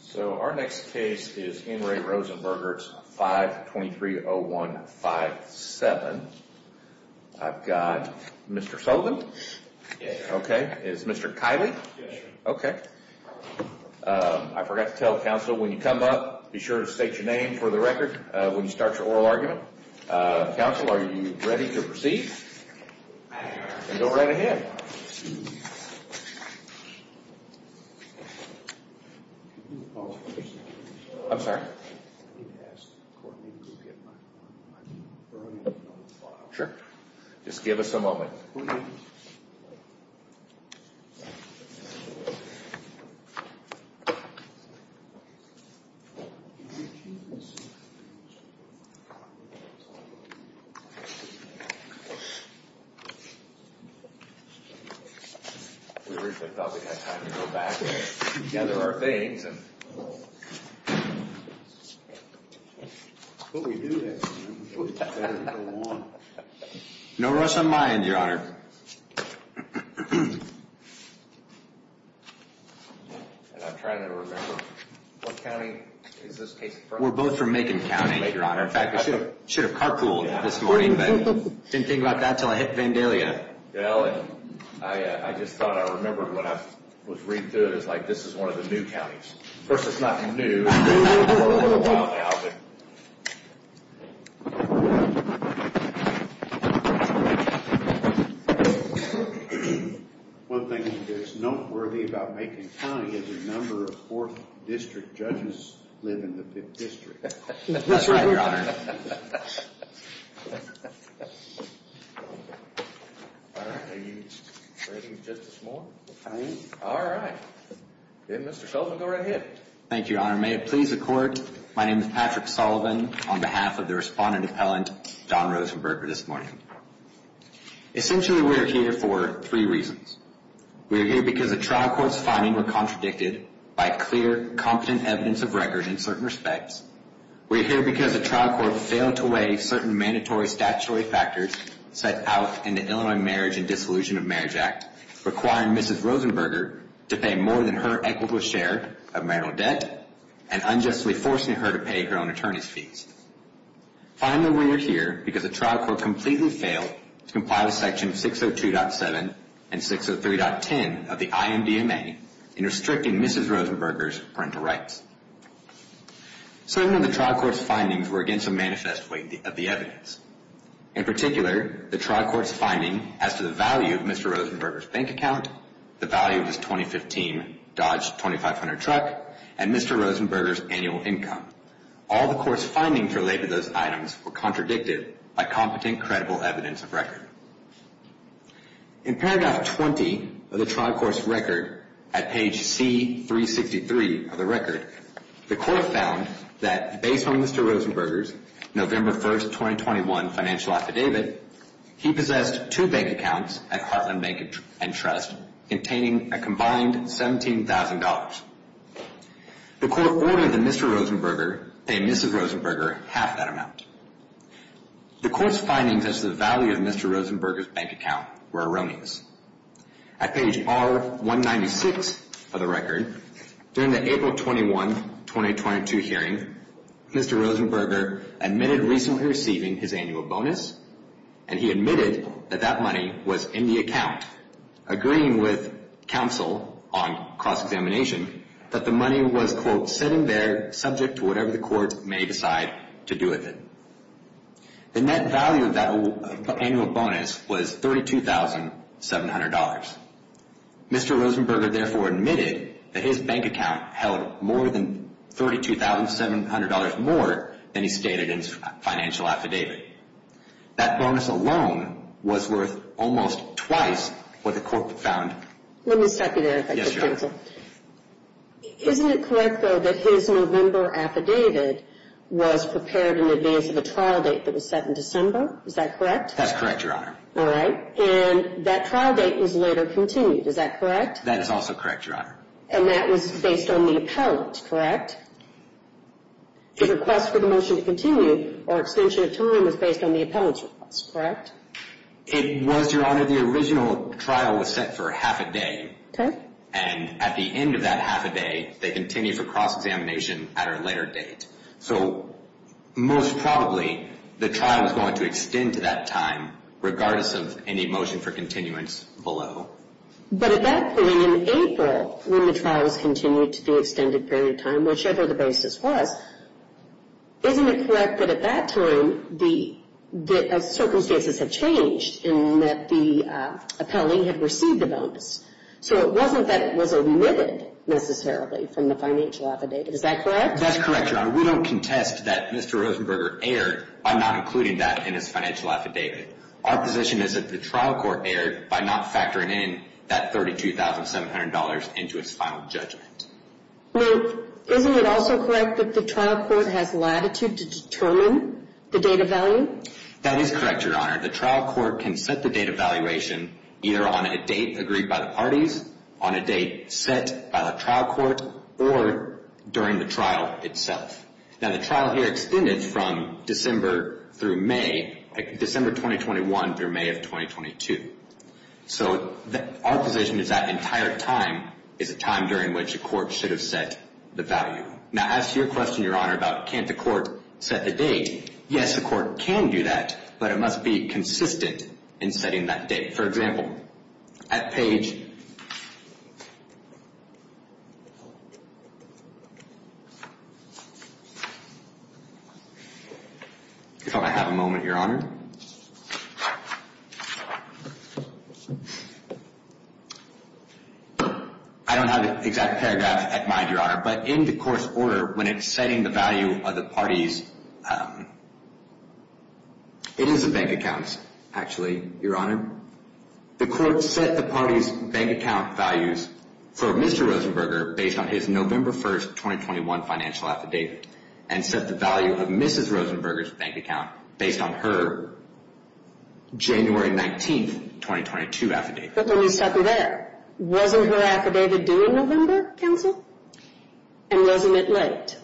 So our next case is Henry Rosenberger's 5-2301-57. I've got Mr. Sullivan? Yes. Okay. Is Mr. Kiley? Yes, sir. Okay. I forgot to tell counsel, when you come up, be sure to state your name for the record when you start your oral argument. Counsel, are you ready to proceed? I am. Then go right ahead. I'm sorry? Sure. Just give us a moment. We originally thought we had time to go back and gather our things. But we do have time. No rush on my end, Your Honor. And I'm trying to remember, what county is this case from? We're both from Macon County, Your Honor. In fact, we should have carpooled this morning, but didn't think about that until I hit Vandalia. Well, I just thought I remembered when I was reading through it. It's like, this is one of the new counties. First, it's not new. Well, now. One thing that's noteworthy about Macon County is the number of 4th district judges that live in the 5th district. That's right, Your Honor. Are you ready, Justice Moore? I am. All right. Then, Mr. Sullivan, go right ahead. Thank you, Your Honor. May it please the Court, my name is Patrick Sullivan, on behalf of the respondent appellant, Don Rosenberger, this morning. Essentially, we are here for three reasons. We are here because the trial court's findings were contradicted by clear, competent evidence of records in certain respects. We are here because the trial court failed to weigh certain mandatory statutory factors set out in the Illinois Marriage and Dissolution of Marriage Act, requiring Mrs. Rosenberger to pay more than her equitable share of marital debt and unjustly forcing her to pay her own attorney's fees. Finally, we are here because the trial court completely failed to comply with Section 602.7 and 603.10 of the IMDMA in restricting Mrs. Rosenberger's parental rights. Some of the trial court's findings were against the manifest weight of the evidence. In particular, the trial court's finding as to the value of Mr. Rosenberger's bank account, the value of his 2015 Dodge 2500 truck, and Mr. Rosenberger's annual income. All the court's findings related to those items were contradicted by competent, credible evidence of record. In paragraph 20 of the trial court's record, at page C363 of the record, the court found that based on Mr. Rosenberger's November 1, 2021 financial affidavit, he possessed two bank accounts at Heartland Bank and Trust containing a combined $17,000. The court ordered that Mr. Rosenberger pay Mrs. Rosenberger half that amount. The court's findings as to the value of Mr. Rosenberger's bank account were erroneous. At page R196 of the record, during the April 21, 2022 hearing, Mr. Rosenberger admitted recently receiving his annual bonus, and he admitted that that money was in the account, agreeing with counsel on cross-examination that the money was, quote, sitting there subject to whatever the court may decide to do with it. The net value of that annual bonus was $32,700. Mr. Rosenberger therefore admitted that his bank account held more than $32,700 more than he stated in his financial affidavit. That bonus alone was worth almost twice what the court found. Let me stop you there, if I could, counsel. Yes, Your Honor. Isn't it correct, though, that his November affidavit was prepared in advance of a trial date that was set in December? Is that correct? That's correct, Your Honor. All right. And that trial date was later continued. Is that correct? That is also correct, Your Honor. And that was based on the appellant, correct? The request for the motion to continue or extension of time was based on the appellant's request, correct? It was, Your Honor. The original trial was set for half a day. Okay. And at the end of that half a day, they continued for cross-examination at a later date. So most probably the trial is going to extend to that time regardless of any motion for continuance below. But at that point in April, when the trial was continued to the extended period of time, whichever the basis was, isn't it correct that at that time the circumstances had changed in that the appellee had received the bonus? So it wasn't that it was omitted necessarily from the financial affidavit. Is that correct? That's correct, Your Honor. We don't contest that Mr. Rosenberger erred by not including that in his financial affidavit. Our position is that the trial court erred by not factoring in that $32,700 into its final judgment. Now, isn't it also correct that the trial court has latitude to determine the data value? That is correct, Your Honor. The trial court can set the data valuation either on a date agreed by the parties, on a date set by the trial court, or during the trial itself. Now, the trial here extended from December through May, December 2021 through May of 2022. So our position is that entire time is a time during which a court should have set the value. Now, as to your question, Your Honor, about can't the court set the date, yes, a court can do that. But it must be consistent in setting that date. For example, at page... If I may have a moment, Your Honor. I don't have an exact paragraph at mind, Your Honor, but in the court's order, when it's setting the value of the parties... It is a bank account, actually, Your Honor. The court set the parties' bank account values for Mr. Rosenberger based on his November 1, 2021 financial affidavit, and set the value of Mrs. Rosenberger's bank account based on her January 19, 2022 affidavit. But let me stop you there. Wasn't her affidavit due in November, counsel? And wasn't it late?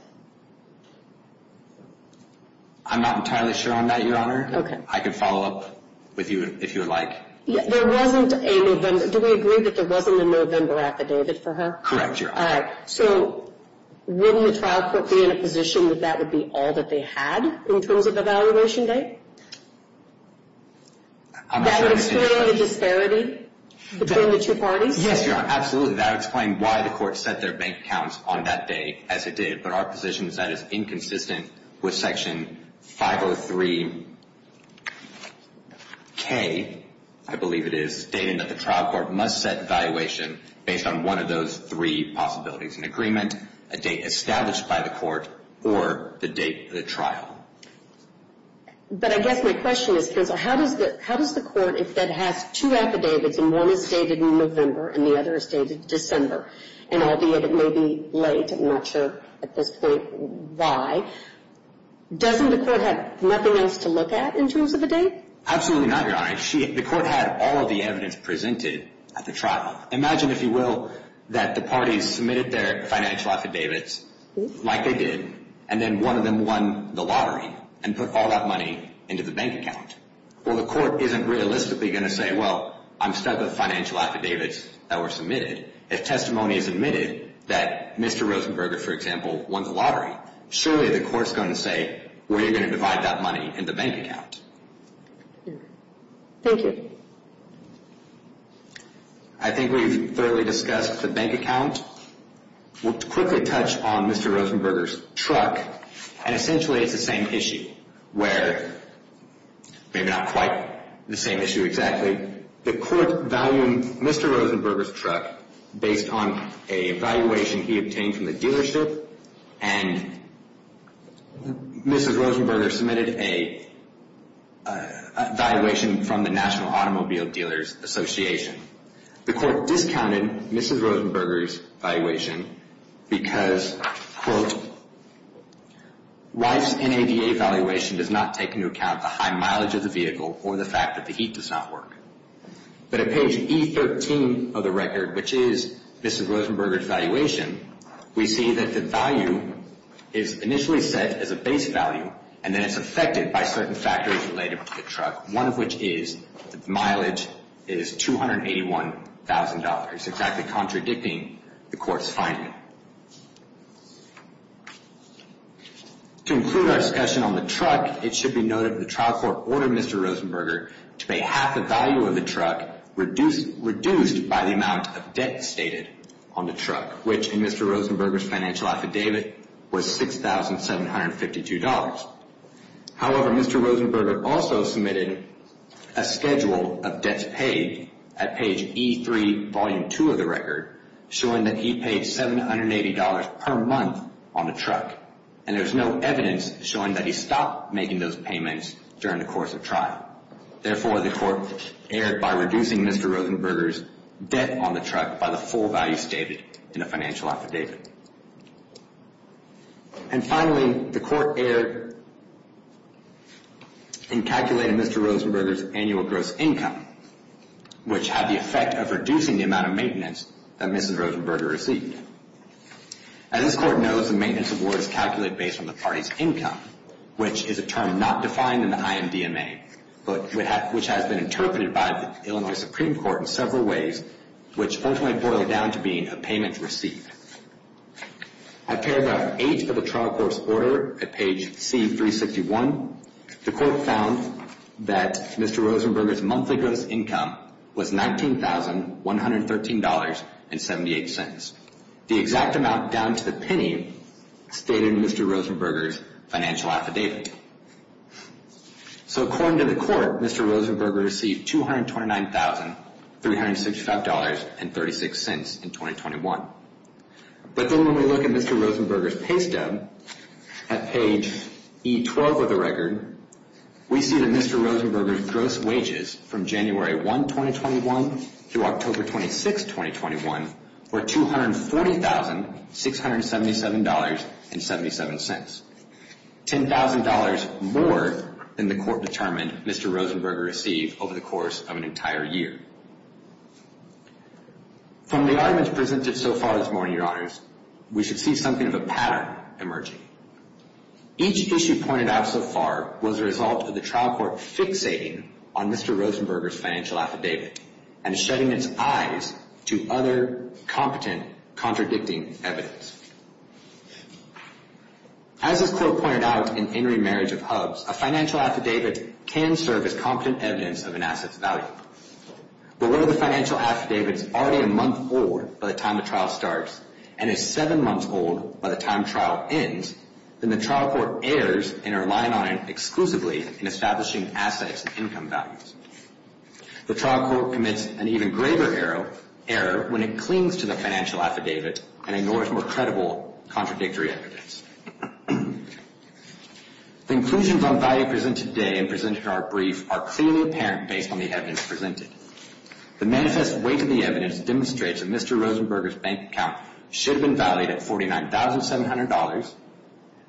I'm not entirely sure on that, Your Honor. Okay. I can follow up with you if you would like. There wasn't a November... Do we agree that there wasn't a November affidavit for her? Correct, Your Honor. All right. So wouldn't the trial court be in a position that that would be all that they had in terms of evaluation date? That would explain the disparity between the two parties? Yes, Your Honor, absolutely. That would explain why the court set their bank accounts on that day as it did. But our position is that it's inconsistent with Section 503K, I believe it is, stating that the trial court must set evaluation based on one of those three possibilities, an agreement, a date established by the court, or the date of the trial. But I guess my question is, counsel, how does the court, if it has two affidavits and one is dated in November and the other is dated December, and albeit it may be late, I'm not sure at this point why, doesn't the court have nothing else to look at in terms of a date? Absolutely not, Your Honor. The court had all of the evidence presented at the trial. Imagine, if you will, that the parties submitted their financial affidavits like they did, and then one of them won the lottery and put all that money into the bank account. Well, the court isn't realistically going to say, well, I'm stuck with financial affidavits that were submitted. If testimony is admitted that Mr. Rosenberger, for example, won the lottery, surely the court is going to say, well, you're going to divide that money in the bank account. Thank you. I think we've thoroughly discussed the bank account. We'll quickly touch on Mr. Rosenberger's truck. And essentially it's the same issue where, maybe not quite the same issue exactly, and the court valued Mr. Rosenberger's truck based on an evaluation he obtained from the dealership, and Mrs. Rosenberger submitted an evaluation from the National Automobile Dealers Association. The court discounted Mrs. Rosenberger's evaluation because, quote, Wife's NADA evaluation does not take into account the high mileage of the vehicle or the fact that the heat does not work. But at page E13 of the record, which is Mrs. Rosenberger's evaluation, we see that the value is initially set as a base value, and then it's affected by certain factors related to the truck, one of which is that the mileage is $281,000, exactly contradicting the court's finding. To conclude our discussion on the truck, it should be noted that the trial court ordered Mr. Rosenberger to pay half the value of the truck, reduced by the amount of debt stated on the truck, which in Mr. Rosenberger's financial affidavit was $6,752. However, Mr. Rosenberger also submitted a schedule of debts paid at page E3, volume 2 of the record, showing that he paid $780 per month on the truck, and there's no evidence showing that he stopped making those payments during the course of trial. Therefore, the court erred by reducing Mr. Rosenberger's debt on the truck by the full value stated in the financial affidavit. And finally, the court erred in calculating Mr. Rosenberger's annual gross income, which had the effect of reducing the amount of maintenance that Mrs. Rosenberger received. As this court knows, the maintenance award is calculated based on the party's income, which is a term not defined in the IMDMA, but which has been interpreted by the Illinois Supreme Court in several ways, which ultimately boils down to being a payment received. At paragraph 8 of the trial court's order at page C361, the court found that Mr. Rosenberger's monthly gross income was $19,113.78. The exact amount, down to the penny, stated in Mr. Rosenberger's financial affidavit. So according to the court, Mr. Rosenberger received $229,365.36 in 2021. But then when we look at Mr. Rosenberger's pay stub, at page E12 of the record, we see that Mr. Rosenberger's gross wages from January 1, 2021, through October 26, 2021, were $240,677.77. $10,000 more than the court determined Mr. Rosenberger received over the course of an entire year. From the arguments presented so far this morning, Your Honors, we should see something of a pattern emerging. Each issue pointed out so far was a result of the trial court fixating on Mr. Rosenberger's financial affidavit and shedding its eyes to other competent, contradicting evidence. As this quote pointed out in In Remarriage of Hubs, a financial affidavit can serve as competent evidence of an asset's value. But whether the financial affidavit is already a month old by the time the trial starts and is seven months old by the time trial ends, then the trial court errs in relying on it exclusively in establishing assets and income values. The trial court commits an even greater error when it clings to the financial affidavit and ignores more credible, contradictory evidence. The inclusions on value presented today and presented in our brief are clearly apparent based on the evidence presented. The manifest weight of the evidence demonstrates that Mr. Rosenberger's bank account should have been valued at $49,700,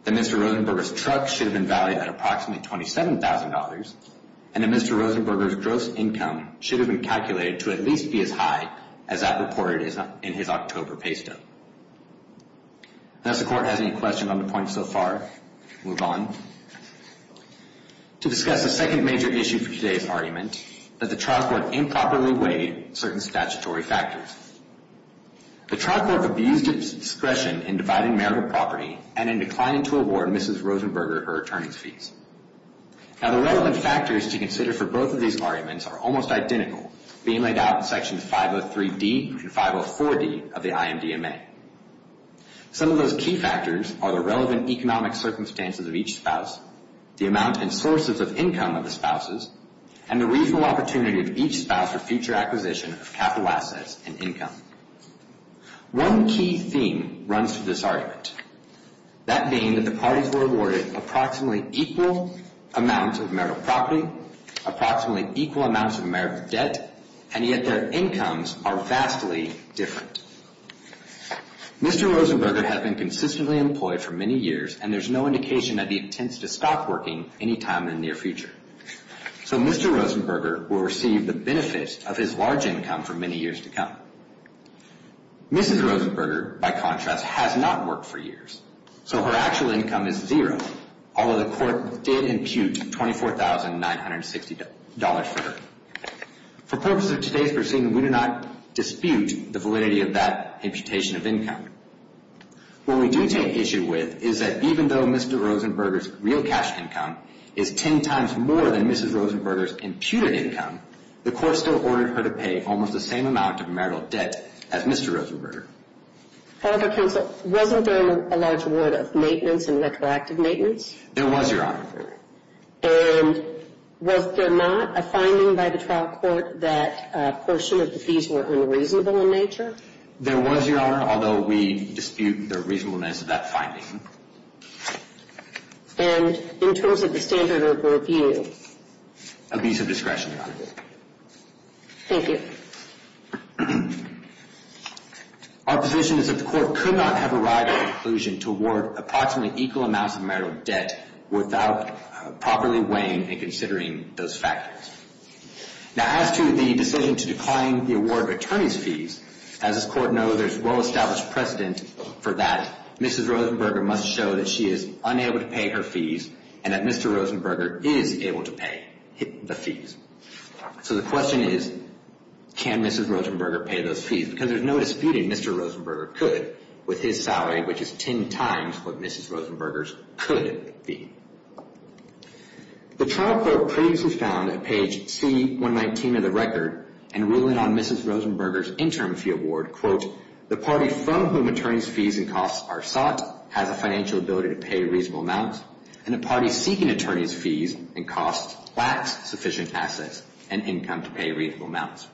that Mr. Rosenberger's truck should have been valued at approximately $27,000, and that Mr. Rosenberger's gross income should have been calculated to at least be as high as that reported in his October pay stub. Does the court have any questions on the point so far? Move on. To discuss the second major issue for today's argument, that the trial court improperly weighed certain statutory factors. The trial court abused its discretion in dividing marital property Now, the relevant factors to consider for both of these arguments are almost identical, being laid out in Section 503D and 504D of the IMDMA. Some of those key factors are the relevant economic circumstances of each spouse, the amount and sources of income of the spouses, and the reasonable opportunity of each spouse for future acquisition of capital assets and income. One key theme runs through this argument, That being that the parties were awarded approximately equal amounts of marital property, approximately equal amounts of marital debt, and yet their incomes are vastly different. Mr. Rosenberger has been consistently employed for many years, and there's no indication that he intends to stop working any time in the near future. So Mr. Rosenberger will receive the benefits of his large income for many years to come. Mrs. Rosenberger, by contrast, has not worked for years. So her actual income is zero, although the court did impute $24,960 for her. For purposes of today's proceeding, we do not dispute the validity of that imputation of income. What we do take issue with is that even though Mr. Rosenberger's real cash income is ten times more than Mrs. Rosenberger's imputed income, the court still ordered her to pay almost the same amount of marital debt as Mr. Rosenberger. However, counsel, wasn't there a large award of maintenance and retroactive maintenance? There was, Your Honor. And was there not a finding by the trial court that a portion of the fees were unreasonable in nature? There was, Your Honor, although we dispute the reasonableness of that finding. And in terms of the standard of review? A piece of discretion, Your Honor. Thank you. Our position is that the court could not have arrived at a conclusion to award approximately equal amounts of marital debt without properly weighing and considering those factors. Now, as to the decision to decline the award of attorney's fees, as this court knows there's well-established precedent for that, Mrs. Rosenberger must show that she is unable to pay her fees and that Mr. Rosenberger is able to pay the fees. So the question is, can Mrs. Rosenberger pay those fees? Because there's no disputing Mr. Rosenberger could with his salary, which is ten times what Mrs. Rosenberger's could be. The trial court previously found at page C119 of the record and ruling on Mrs. Rosenberger's interim fee award, the party from whom attorney's fees and costs are sought has a financial ability to pay reasonable amounts and the party seeking attorney's fees and costs lacks sufficient assets and income to pay reasonable amounts.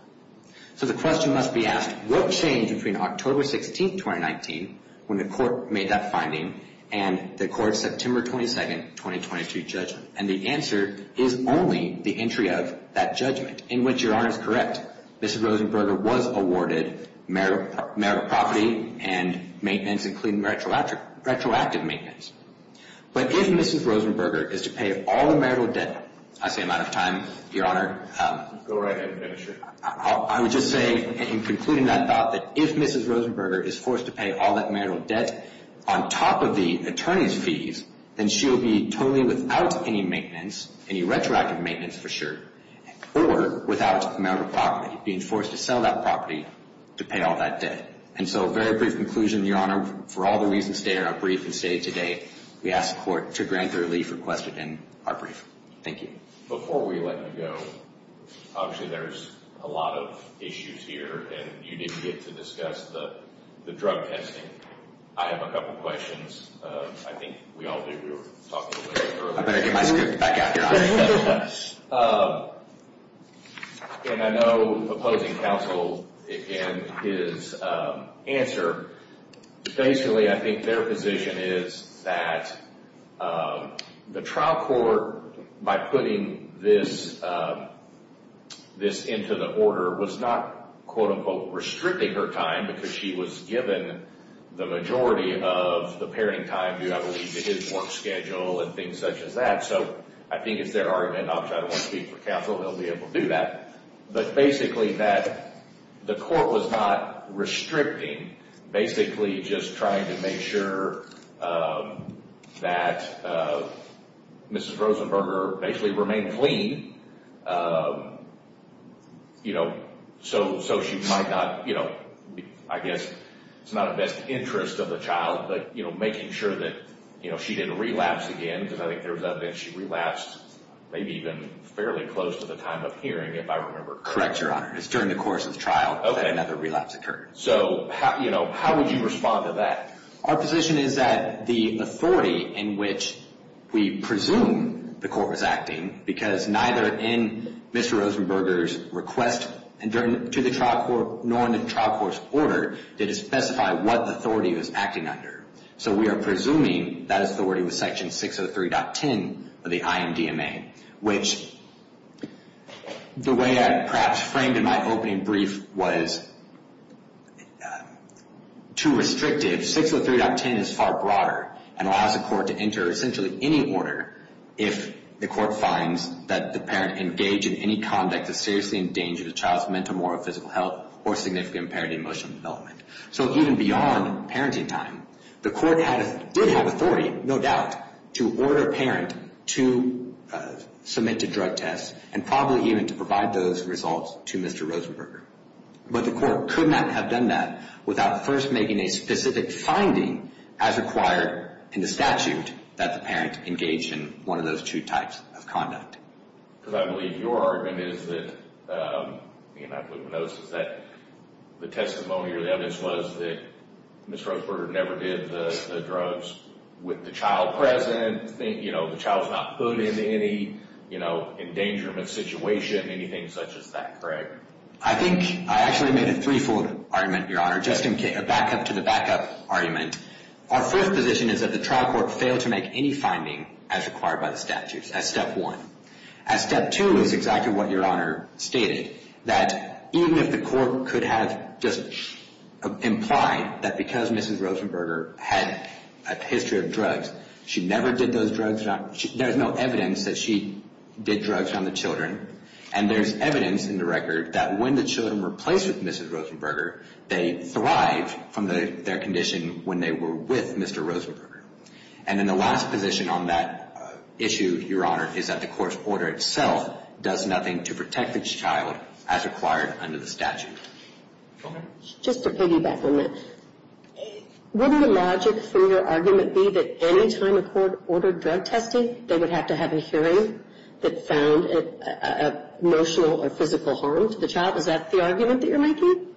So the question must be asked, what changed between October 16, 2019, when the court made that finding, and the court's September 22, 2022 judgment? And the answer is only the entry of that judgment, in which, Your Honor, is correct. Mrs. Rosenberger was awarded marital property and maintenance, including retroactive maintenance. But if Mrs. Rosenberger is to pay all the marital debt, I say I'm out of time, Your Honor. Go right ahead and finish it. I would just say, in concluding that thought, that if Mrs. Rosenberger is forced to pay all that marital debt on top of the attorney's fees, then she'll be totally without any maintenance, any retroactive maintenance for sure, or without marital property, being forced to sell that property to pay all that debt. And so a very brief conclusion, Your Honor. For all the reasons stated in our brief and stated today, we ask the court to grant the relief requested in our brief. Thank you. Before we let you go, obviously there's a lot of issues here, and you didn't get to discuss the drug testing. I have a couple questions. I think we all did. We were talking a little bit earlier. I better get my script back out here. And I know opposing counsel in his answer, basically I think their position is that the trial court, by putting this into the order, was not, quote-unquote, restricting her time, because she was given the majority of the pairing time due, I believe, to his work schedule and things such as that. So I think it's their argument, and obviously I don't want to speak for counsel. They'll be able to do that. But basically that the court was not restricting, basically just trying to make sure that Mrs. Rosenberger basically remained clean so she might not, I guess it's not in the best interest of the child, but making sure that she didn't relapse again, because I think there was evidence she relapsed, maybe even fairly close to the time of hearing, if I remember correctly. Correct, Your Honor. It was during the course of the trial that another relapse occurred. So how would you respond to that? Our position is that the authority in which we presume the court was acting, because neither in Mr. Rosenberger's request to the trial court, nor in the trial court's order, did it specify what authority it was acting under. So we are presuming that authority was Section 603.10 of the IMDMA, which the way I perhaps framed in my opening brief was too restrictive. 603.10 is far broader and allows the court to enter essentially any order if the court finds that the parent engaged in any conduct that is seriously endangering the child's mental, moral, physical health, or significant parenting emotional development. So even beyond parenting time, the court did have authority, no doubt, to order a parent to submit to drug tests and probably even to provide those results to Mr. Rosenberger. But the court could not have done that without first making a specific finding, as required in the statute, that the parent engaged in one of those two types of conduct. Because I believe your argument is that the testimony or the evidence was that Mr. Rosenberger never did the drugs with the child present, the child's not put in any endangerment situation, anything such as that, correct? I think I actually made a three-fold argument, Your Honor. Just in back-up to the back-up argument, our first position is that the trial court failed to make any finding as required by the statute, as step one. As step two is exactly what Your Honor stated, that even if the court could have just implied that because Mrs. Rosenberger had a history of drugs, she never did those drugs, there's no evidence that she did drugs on the children, and there's evidence in the record that when the children were placed with Mrs. Rosenberger, they thrived from their condition when they were with Mr. Rosenberger. And then the last position on that issue, Your Honor, is that the court's order itself does nothing to protect the child as required under the statute. Go ahead. Just to piggyback on that. Wouldn't the logic for your argument be that any time a court ordered drug testing, they would have to have a hearing that found emotional or physical harm to the child? Is that the argument that you're making?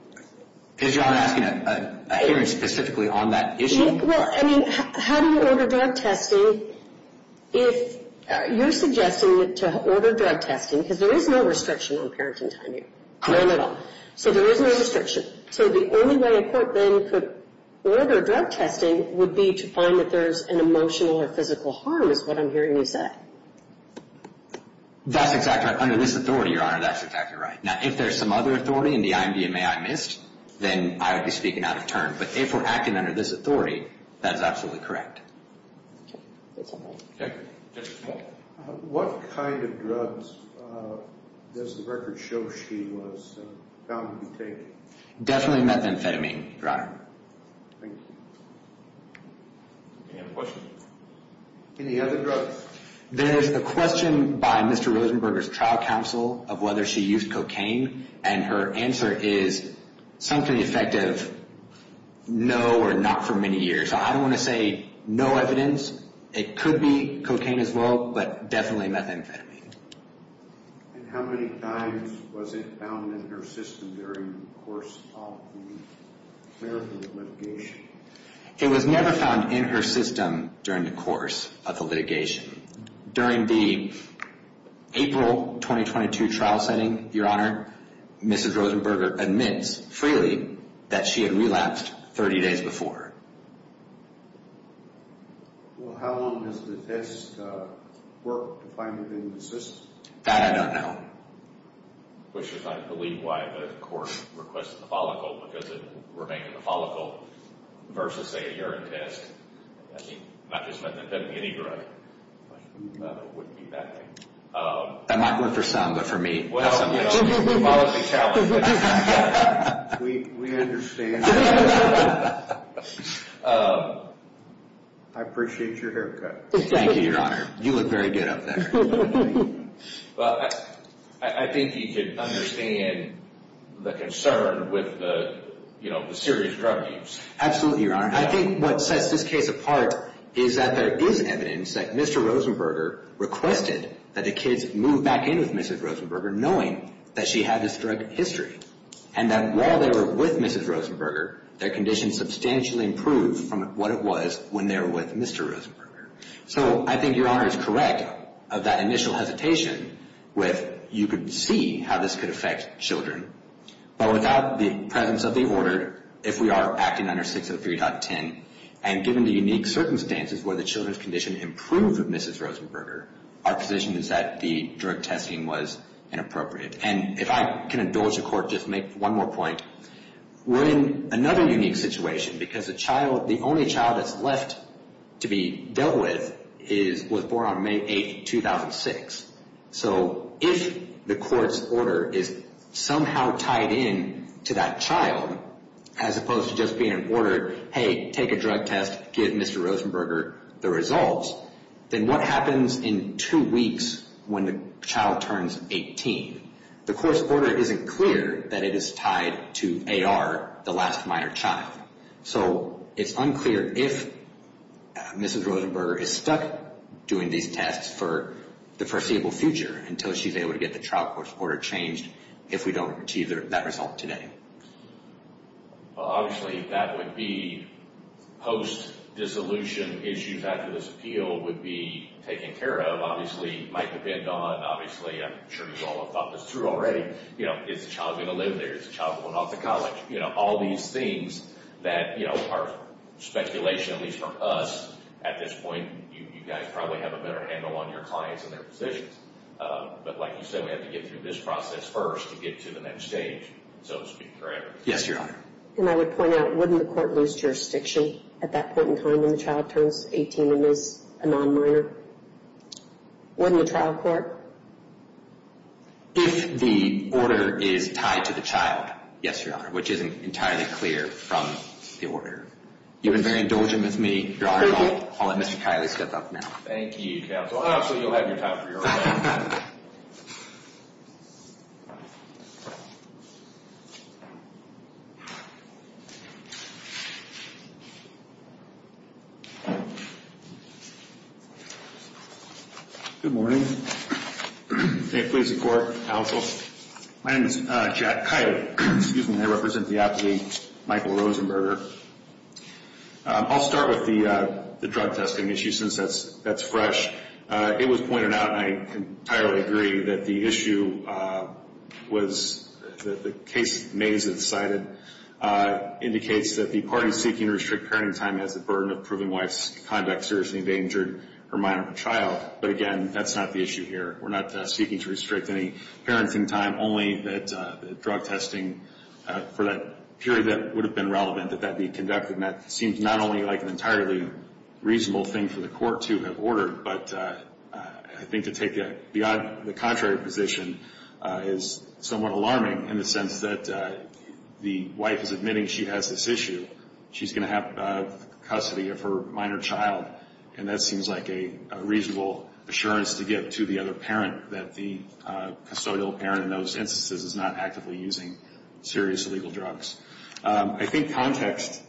Is Your Honor asking a hearing specifically on that issue? Well, I mean, how do you order drug testing if you're suggesting to order drug testing, because there is no restriction on parenting time here. None at all. So there is no restriction. So the only way a court then could order drug testing would be to find that there's an emotional or physical harm, is what I'm hearing you say. That's exactly right. Under this authority, Your Honor, that's exactly right. Now, if there's some other authority in the IMDMA I missed, then I would be speaking out of turn. But if we're acting under this authority, that is absolutely correct. Okay. Thank you. Judge? What kind of drugs does the record show she was found to be taking? Definitely methamphetamine, Your Honor. Thank you. Any other questions? Any other drugs? There's a question by Mr. Rosenberger's trial counsel of whether she used cocaine, and her answer is something to the effect of no or not for many years. So I don't want to say no evidence. It could be cocaine as well, but definitely methamphetamine. And how many times was it found in her system during the course of the clerical litigation? It was never found in her system during the course of the litigation. During the April 2022 trial setting, Your Honor, Mr. Rosenberger admits freely that she had relapsed 30 days before. Well, how long has the test worked to find it in the system? That I don't know. Which is, I believe, why the court requested the follicle, because it remained in the follicle versus, say, a urine test. I mean, not just methamphetamine, any drug. It wouldn't be that thing. That might work for some, but for me, that's a policy challenge. We understand that. I appreciate your haircut. Thank you, Your Honor. You look very good up there. Well, I think you could understand the concern with the serious drug use. Absolutely, Your Honor. I think what sets this case apart is that there is evidence that Mr. Rosenberger requested that the kids move back in with Mrs. Rosenberger, knowing that she had this drug history, and that while they were with Mrs. Rosenberger, their condition substantially improved from what it was when they were with Mr. Rosenberger. So I think Your Honor is correct of that initial hesitation with, you could see how this could affect children. But without the presence of the order, if we are acting under 603.10, and given the unique circumstances where the children's condition improved with Mrs. Rosenberger, our position is that the drug testing was inappropriate. And if I can indulge the court, just make one more point. We're in another unique situation, because the only child that's left to be dealt with was born on May 8, 2006. So if the court's order is somehow tied in to that child, as opposed to just being an order, hey, take a drug test, give Mr. Rosenberger the results, then what happens in two weeks when the child turns 18? The court's order isn't clear that it is tied to AR, the last minor child. So it's unclear if Mrs. Rosenberger is stuck doing these tests for the foreseeable future until she's able to get the trial court's order changed if we don't achieve that result today. Obviously, that would be post-dissolution issues after this appeal would be taken care of. Obviously, it might depend on, obviously, I'm sure you've all thought this through already, is the child going to live there? Is the child going off to college? All these things that are speculation, at least from us, at this point you guys probably have a better handle on your clients and their positions. But like you said, we have to get through this process first to get to the next stage. So to speak for everyone. Yes, Your Honor. And I would point out, wouldn't the court lose jurisdiction at that point in time when the child turns 18 and is a non-minor? Wouldn't the trial court? If the order is tied to the child, yes, Your Honor, which isn't entirely clear from the order. You've been very indulgent with me, Your Honor. I'll let Mr. Kiley step up now. Thank you, counsel. Counsel, obviously you'll have your time for your own. Good morning. Please support, counsel. My name is Jack Kiley. Excuse me, I represent the applicant, Michael Rosenberger. I'll start with the drug testing issue since that's fresh. It was pointed out, and I entirely agree, that the issue was the case Mays had cited indicates that the party seeking to restrict parenting time has the burden of proving wife's conduct seriously endangered her minor child. But, again, that's not the issue here. We're not seeking to restrict any parenting time, only that drug testing for that period that would have been relevant, that that be conducted, and that seems not only like an entirely reasonable thing for the court to have ordered, but I think to take the contrary position is somewhat alarming in the sense that the wife is admitting she has this issue. She's going to have custody of her minor child, and that seems like a reasonable assurance to give to the other parent that the custodial parent in those instances is not actively using serious illegal drugs. I think context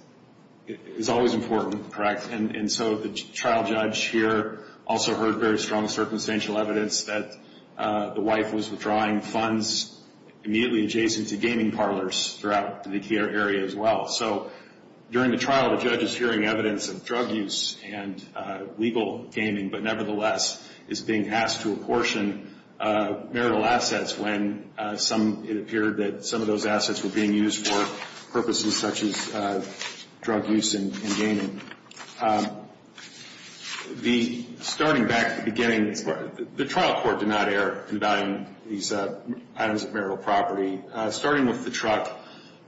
is always important, correct? And so the trial judge here also heard very strong circumstantial evidence that the wife was withdrawing funds immediately adjacent to gaming parlors throughout the area as well. So during the trial, the judge is hearing evidence of drug use and legal gaming, but nevertheless is being asked to apportion marital assets when some, it appeared that some of those assets were being used for purposes such as drug use and gaming. Starting back at the beginning, the trial court did not err in valuing these items of marital property. Starting with the truck,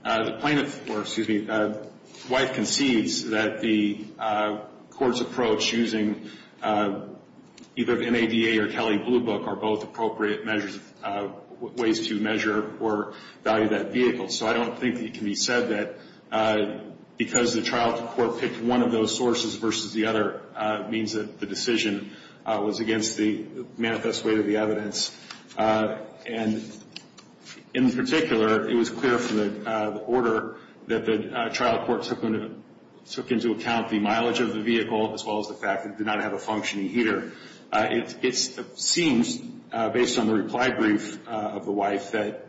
the plaintiff, or excuse me, the wife concedes that the court's approach using either the NADA or Kelly Blue Book are both appropriate measures, ways to measure or value that vehicle. So I don't think it can be said that because the trial court picked one of those sources versus the other means that the decision was against the manifest way of the evidence. And in particular, it was clear from the order that the trial court took into account the mileage of the vehicle as well as the fact that it did not have a functioning heater. It seems, based on the reply brief of the wife, that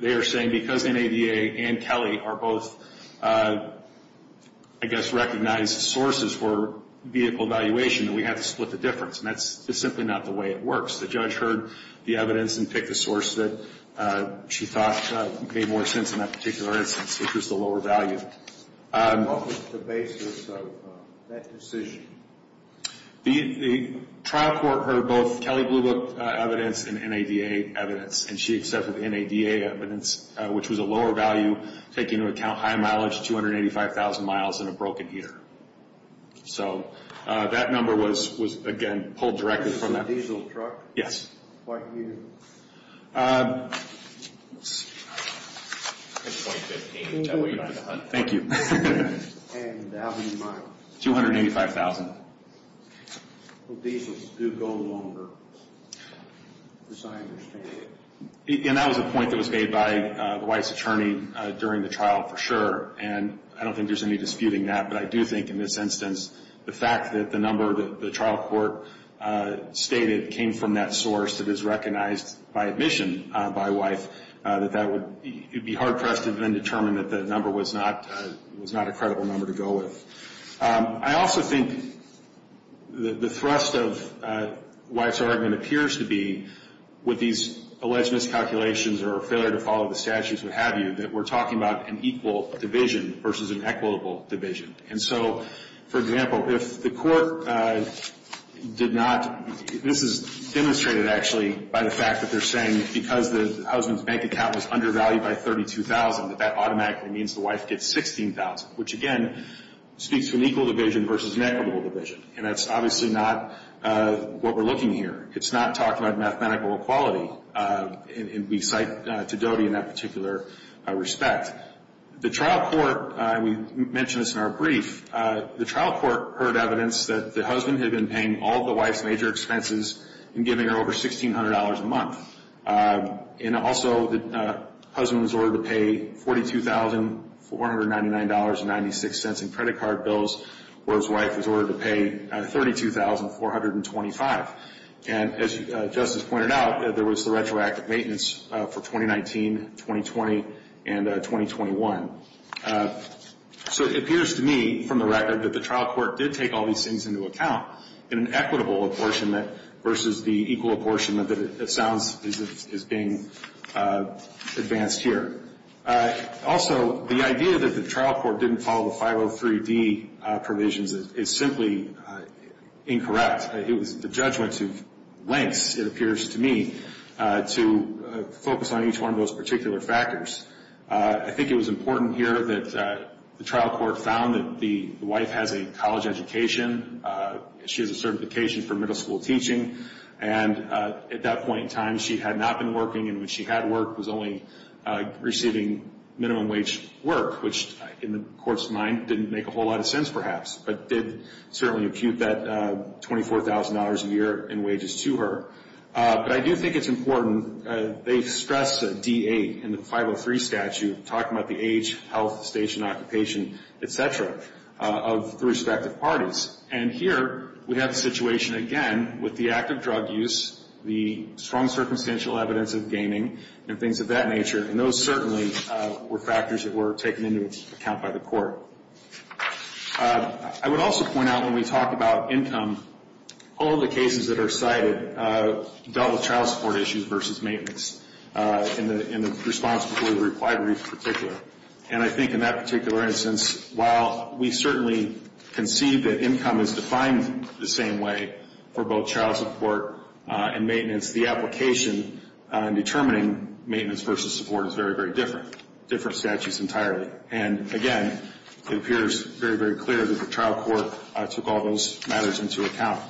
they are saying because NADA and Kelly are both, I guess, recognized sources for vehicle valuation that we have to split the difference, and that's simply not the way it works. The judge heard the evidence and picked a source that she thought made more sense in that particular instance, which was the lower value. What was the basis of that decision? The trial court heard both Kelly Blue Book evidence and NADA evidence, and she accepted the NADA evidence, which was a lower value, taking into account high mileage, 285,000 miles and a broken heater. So that number was, again, pulled directly from that. It was a diesel truck? Yes. What year? Thank you. And how many miles? 285,000. Diesels do go longer, as I understand it. And that was a point that was made by the wife's attorney during the trial, for sure, and I don't think there's any disputing that, but I do think in this instance the fact that the number that the trial court stated came from that source that is recognized by admission by a wife, it would be hard for us to then determine that that number was not a credible number to go with. I also think the thrust of the wife's argument appears to be with these alleged miscalculations or failure to follow the statutes, what have you, that we're talking about an equal division versus an equitable division. And so, for example, if the court did not – this is demonstrated, actually, by the fact that they're saying because the husband's bank account was undervalued by $32,000, that that automatically means the wife gets $16,000, which, again, speaks to an equal division versus an equitable division. And that's obviously not what we're looking here. It's not talking about mathematical equality, and we cite to DOTI in that particular respect. The trial court, and we mentioned this in our brief, the trial court heard evidence that the husband had been paying all of the wife's major expenses and giving her over $1,600 a month. And also the husband was ordered to pay $42,499.96 in credit card bills, where his wife was ordered to pay $32,425. And as Justice pointed out, there was the retroactive maintenance for 2019, 2020, and 2021. So it appears to me from the record that the trial court did take all these things into account in an equitable apportionment versus the equal apportionment that it sounds is being advanced here. Also, the idea that the trial court didn't follow the 503D provisions is simply incorrect. The judge went to lengths, it appears to me, to focus on each one of those particular factors. I think it was important here that the trial court found that the wife has a college education. She has a certification for middle school teaching. And at that point in time, she had not been working, and when she had worked, was only receiving minimum wage work, which in the court's mind didn't make a whole lot of sense perhaps, but did certainly impute that $24,000 a year in wages to her. But I do think it's important. They stress the DA in the 503 statute, talking about the age, health, station, occupation, et cetera, of the respective parties. And here we have the situation again with the active drug use, the strong circumstantial evidence of gaming, and things of that nature, and those certainly were factors that were taken into account by the court. I would also point out when we talk about income, all of the cases that are cited dealt with child support issues versus maintenance in the response before the required brief in particular. And I think in that particular instance, while we certainly can see that income is defined the same way for both child support and maintenance, the application in determining maintenance versus support is very, very different, different statutes entirely. And again, it appears very, very clear that the trial court took all those matters into account.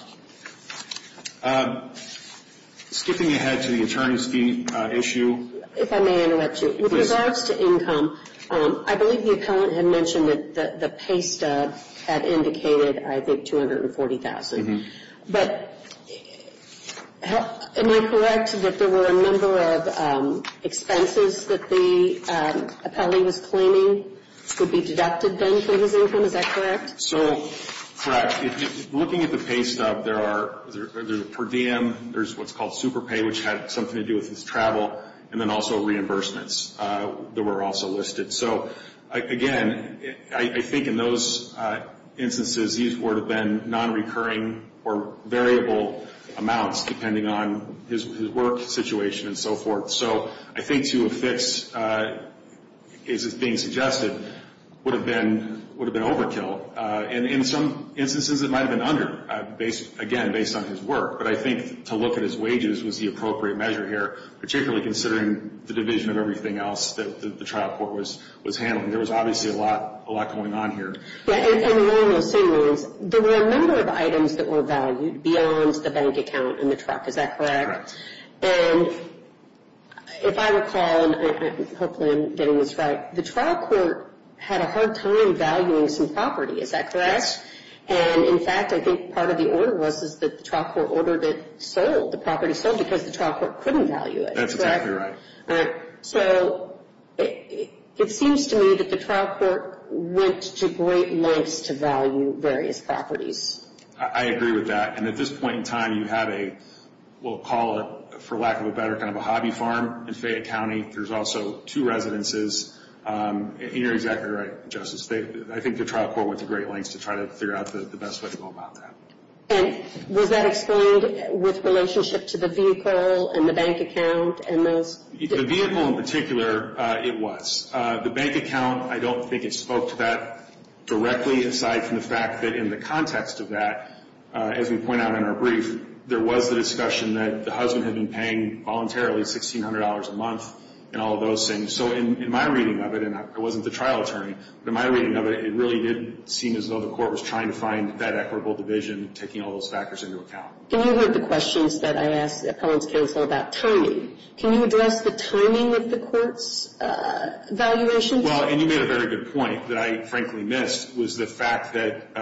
Skipping ahead to the attorney's fee issue. If I may interrupt you. With regards to income, I believe the appellant had mentioned that the pay stub had indicated, I think, $240,000. But am I correct that there were a number of expenses that the appellee was claiming could be deducted then for his income? Is that correct? So, correct. Looking at the pay stub, there's a per diem, there's what's called super pay, which had something to do with his travel, and then also reimbursements that were also listed. So, again, I think in those instances, these would have been non-recurring or variable amounts, depending on his work situation and so forth. So I think to affix, as is being suggested, would have been overkill. And in some instances, it might have been under, again, based on his work. But I think to look at his wages was the appropriate measure here, particularly considering the division of everything else that the trial court was handling. There was obviously a lot going on here. Yeah, and along those same lines, there were a number of items that were valued beyond the bank account and the truck. Is that correct? Correct. And if I recall, and hopefully I'm getting this right, the trial court had a hard time valuing some property. Is that correct? Yes. And, in fact, I think part of the order was that the trial court ordered it sold, the property sold, because the trial court couldn't value it. That's exactly right. So it seems to me that the trial court went to great lengths to value various properties. I agree with that. And at this point in time, you have a, we'll call it, for lack of a better kind of a hobby farm in Fayette County. There's also two residences. And you're exactly right, Justice. I think the trial court went to great lengths to try to figure out the best way to go about that. And was that explained with relationship to the vehicle and the bank account and those? The vehicle in particular, it was. The bank account, I don't think it spoke to that directly aside from the fact that in the context of that, as we point out in our brief, there was the discussion that the husband had been paying voluntarily $1,600 a month and all of those things. So in my reading of it, and I wasn't the trial attorney, but in my reading of it, it really did seem as though the court was trying to find that equitable division, taking all those factors into account. And you heard the questions that I asked the appellant's counsel about timing. Can you address the timing of the court's evaluation? Well, and you made a very good point that I, frankly, missed, was the fact that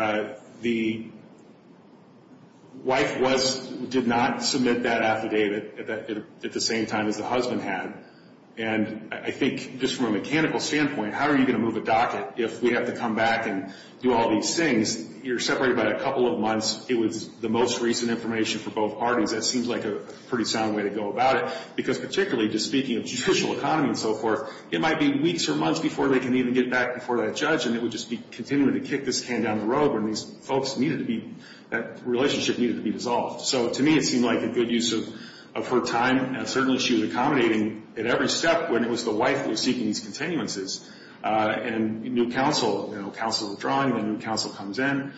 the wife did not submit that affidavit at the same time as the husband had. And I think just from a mechanical standpoint, how are you going to move a docket if we have to come back and do all these things? You're separated by a couple of months. It was the most recent information for both parties. That seems like a pretty sound way to go about it, because particularly just speaking of judicial economy and so forth, it might be weeks or months before they can even get back before that judge, and it would just be continuing to kick this can down the road when these folks needed to be, that relationship needed to be dissolved. So to me, it seemed like a good use of her time, and certainly she was accommodating at every step when it was the wife who was seeking these continuances. And new counsel, you know, counsel withdrawing, then new counsel comes in.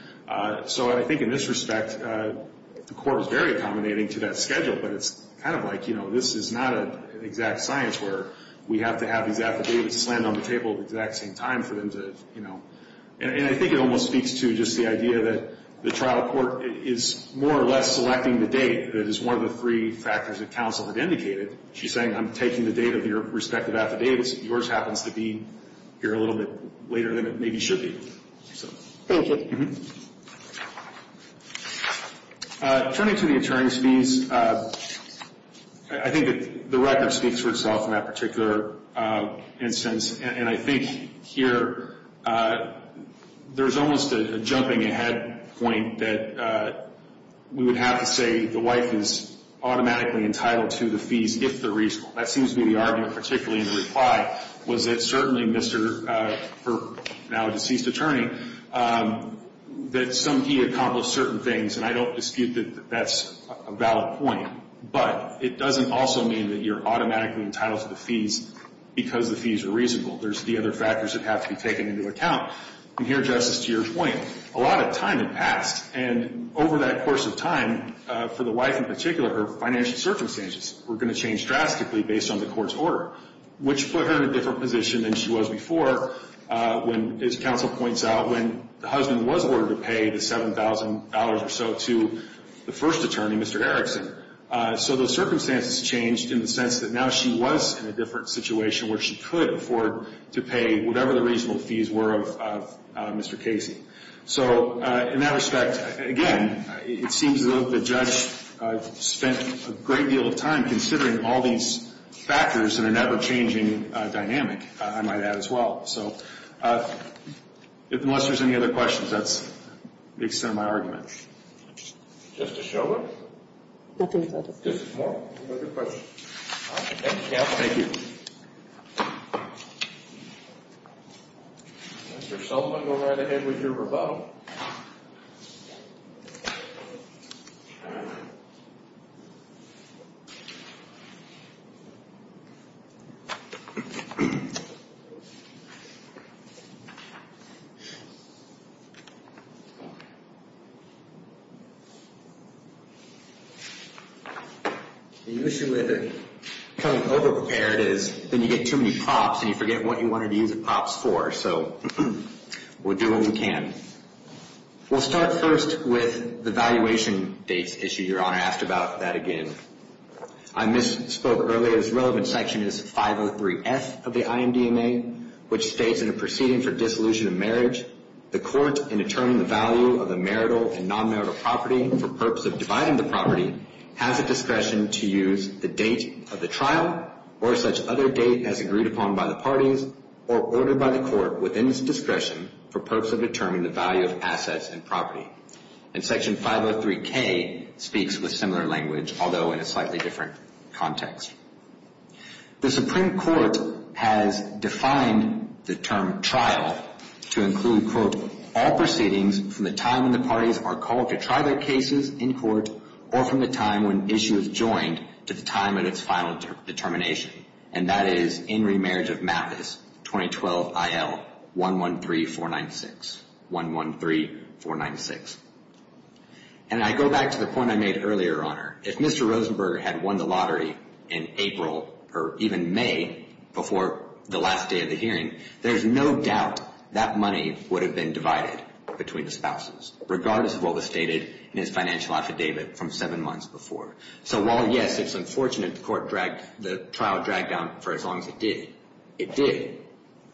So I think in this respect, the court was very accommodating to that schedule, but it's kind of like, you know, this is not an exact science where we have to have these affidavits land on the table at the exact same time for them to, you know. And I think it almost speaks to just the idea that the trial court is more or less selecting the date. That is one of the three factors that counsel had indicated. She's saying, I'm taking the date of your respective affidavits. Yours happens to be here a little bit later than it maybe should be. Thank you. Turning to the attorney's fees, I think that the record speaks for itself in that particular instance. And I think here there's almost a jumping ahead point that we would have to say the wife is automatically entitled to the fees if they're reasonable. That seems to be the argument, particularly in the reply, was that certainly Mr. for now a deceased attorney, that some he accomplished certain things, and I don't dispute that that's a valid point. But it doesn't also mean that you're automatically entitled to the fees because the fees are reasonable. There's the other factors that have to be taken into account. And here, Justice, to your point, a lot of time had passed, and over that course of time, for the wife in particular, her financial circumstances were going to change drastically based on the court's order, which put her in a different position than she was before when, as counsel points out, when the husband was ordered to pay the $7,000 or so to the first attorney, Mr. Erickson. So those circumstances changed in the sense that now she was in a different situation where she could afford to pay whatever the reasonable fees were of Mr. Casey. So in that respect, again, it seems as though the judge spent a great deal of time considering all these factors in an ever-changing dynamic, I might add as well. So unless there's any other questions, that's the extent of my argument. Justice Schovanec? Nothing further. Justice Moore, any other questions? Thank you, counsel. Thank you. Mr. Sullivan, go right ahead with your rebuttal. The issue with becoming over-prepared is then you get too many props, and you forget what you wanted to use the props for. So we'll do what we can. We'll start first with the valuation dates issue. Your Honor asked about that again. I misspoke earlier. This relevant section is 503F of the IMDMA, which states in a proceeding for dissolution of marriage, the court, in determining the value of the marital and non-marital property for purpose of dividing the property, has the discretion to use the date of the trial or such other date as agreed upon by the parties or ordered by the court within its discretion for purpose of determining the value of assets and property. And Section 503K speaks with similar language, although in a slightly different context. The Supreme Court has defined the term trial to include, quote, all proceedings from the time when the parties are called to try their cases in court or from the time when the issue is joined to the time at its final determination. And that is in remarriage of Mathis, 2012 IL 113496. 113496. And I go back to the point I made earlier, Your Honor. If Mr. Rosenberger had won the lottery in April or even May before the last day of the hearing, there's no doubt that money would have been divided between the spouses, regardless of what was stated in his financial affidavit from seven months before. So while, yes, it's unfortunate the trial dragged down for as long as it did, it did.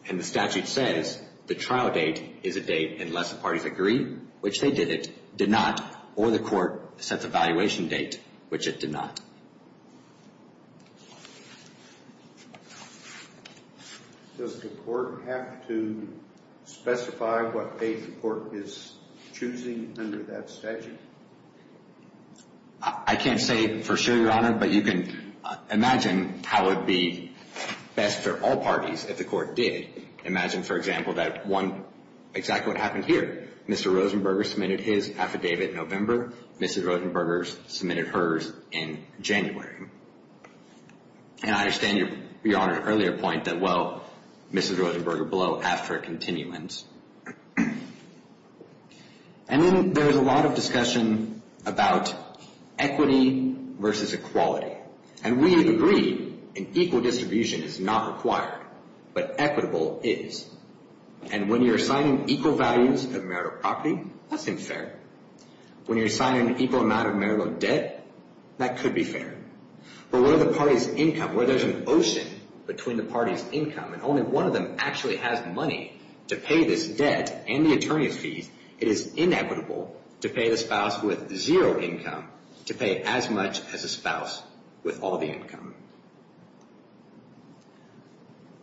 And the statute says the trial date is a date unless the parties agree, which they did not, or the court sets a valuation date, which it did not. Does the court have to specify what date the court is choosing under that statute? I can't say for sure, Your Honor. But you can imagine how it would be best for all parties if the court did. Imagine, for example, that exactly what happened here. Mr. Rosenberger submitted his affidavit in November. Mrs. Rosenberger submitted hers in January. And I understand, Your Honor, the earlier point that, well, Mrs. Rosenberger blew after a continuance. And then there's a lot of discussion about equity versus equality. And we agree an equal distribution is not required, but equitable is. And when you're assigning equal values of marital property, that's unfair. When you're assigning an equal amount of marital debt, that could be fair. But what if the party's income, where there's an ocean between the party's income and only one of them actually has money to pay this debt and the attorney's fees, it is inequitable to pay the spouse with zero income to pay as much as a spouse with all the income.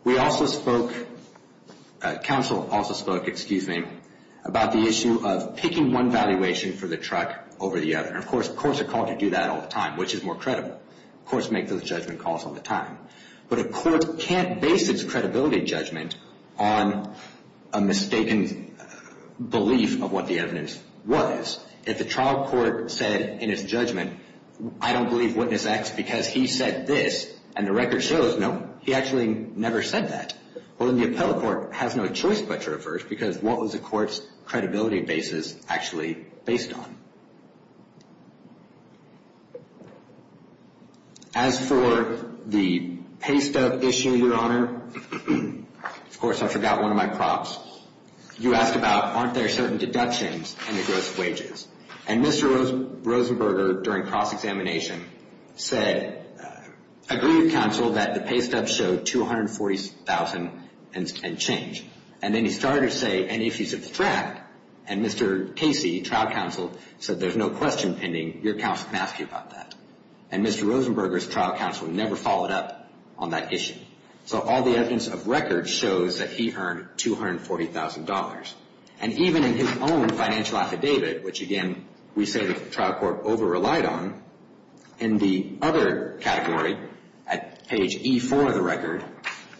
We also spoke, counsel also spoke, excuse me, about the issue of picking one valuation for the truck over the other. And, of course, courts are called to do that all the time, which is more credible. Courts make those judgment calls all the time. But a court can't base its credibility judgment on a mistaken belief of what the evidence was. If the trial court said in its judgment, I don't believe witness X because he said this, and the record shows, nope, he actually never said that. Well, then the appellate court has no choice but to reverse, because what was the court's credibility basis actually based on? As for the pay stub issue, Your Honor, of course I forgot one of my props. You asked about aren't there certain deductions in the gross wages? And Mr. Rosenberger, during cross-examination, said, agreed with counsel that the pay stub showed $240,000 and change. And then he started to say, and if you subtract, And Mr. Casey, trial counsel, said there's no question pending. Your counsel can ask you about that. And Mr. Rosenberger's trial counsel never followed up on that issue. So all the evidence of record shows that he earned $240,000. And even in his own financial affidavit, which, again, we say the trial court over-relied on, in the other category, at page E4 of the record,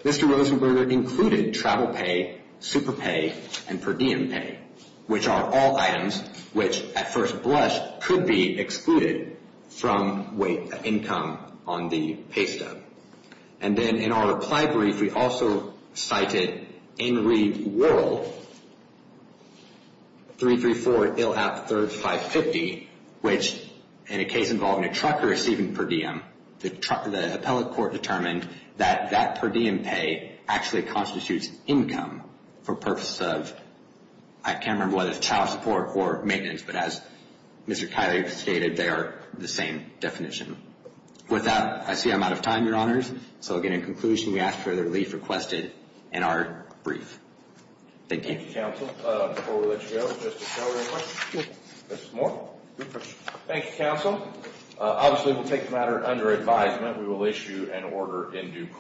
Mr. Rosenberger included travel pay, super pay, and per diem pay, which are all items which, at first blush, could be excluded from weight income on the pay stub. And then in our reply brief, we also cited Enreid Worrell, 334 ILAP 3550, which, in a case involving a trucker receiving per diem, the appellate court determined that that per diem pay actually constitutes income for purposes of, I can't remember whether it's child support or maintenance, but as Mr. Kiley stated, they are the same definition. With that, I see I'm out of time, Your Honors. So, again, in conclusion, we ask for your relief requested in our brief. Thank you. Thank you, counsel. Before we let you go, Justice Keller, any questions? No. Justice Moore? No questions. Thank you, counsel. Obviously, we'll take the matter under advisement. We will issue an order in due course.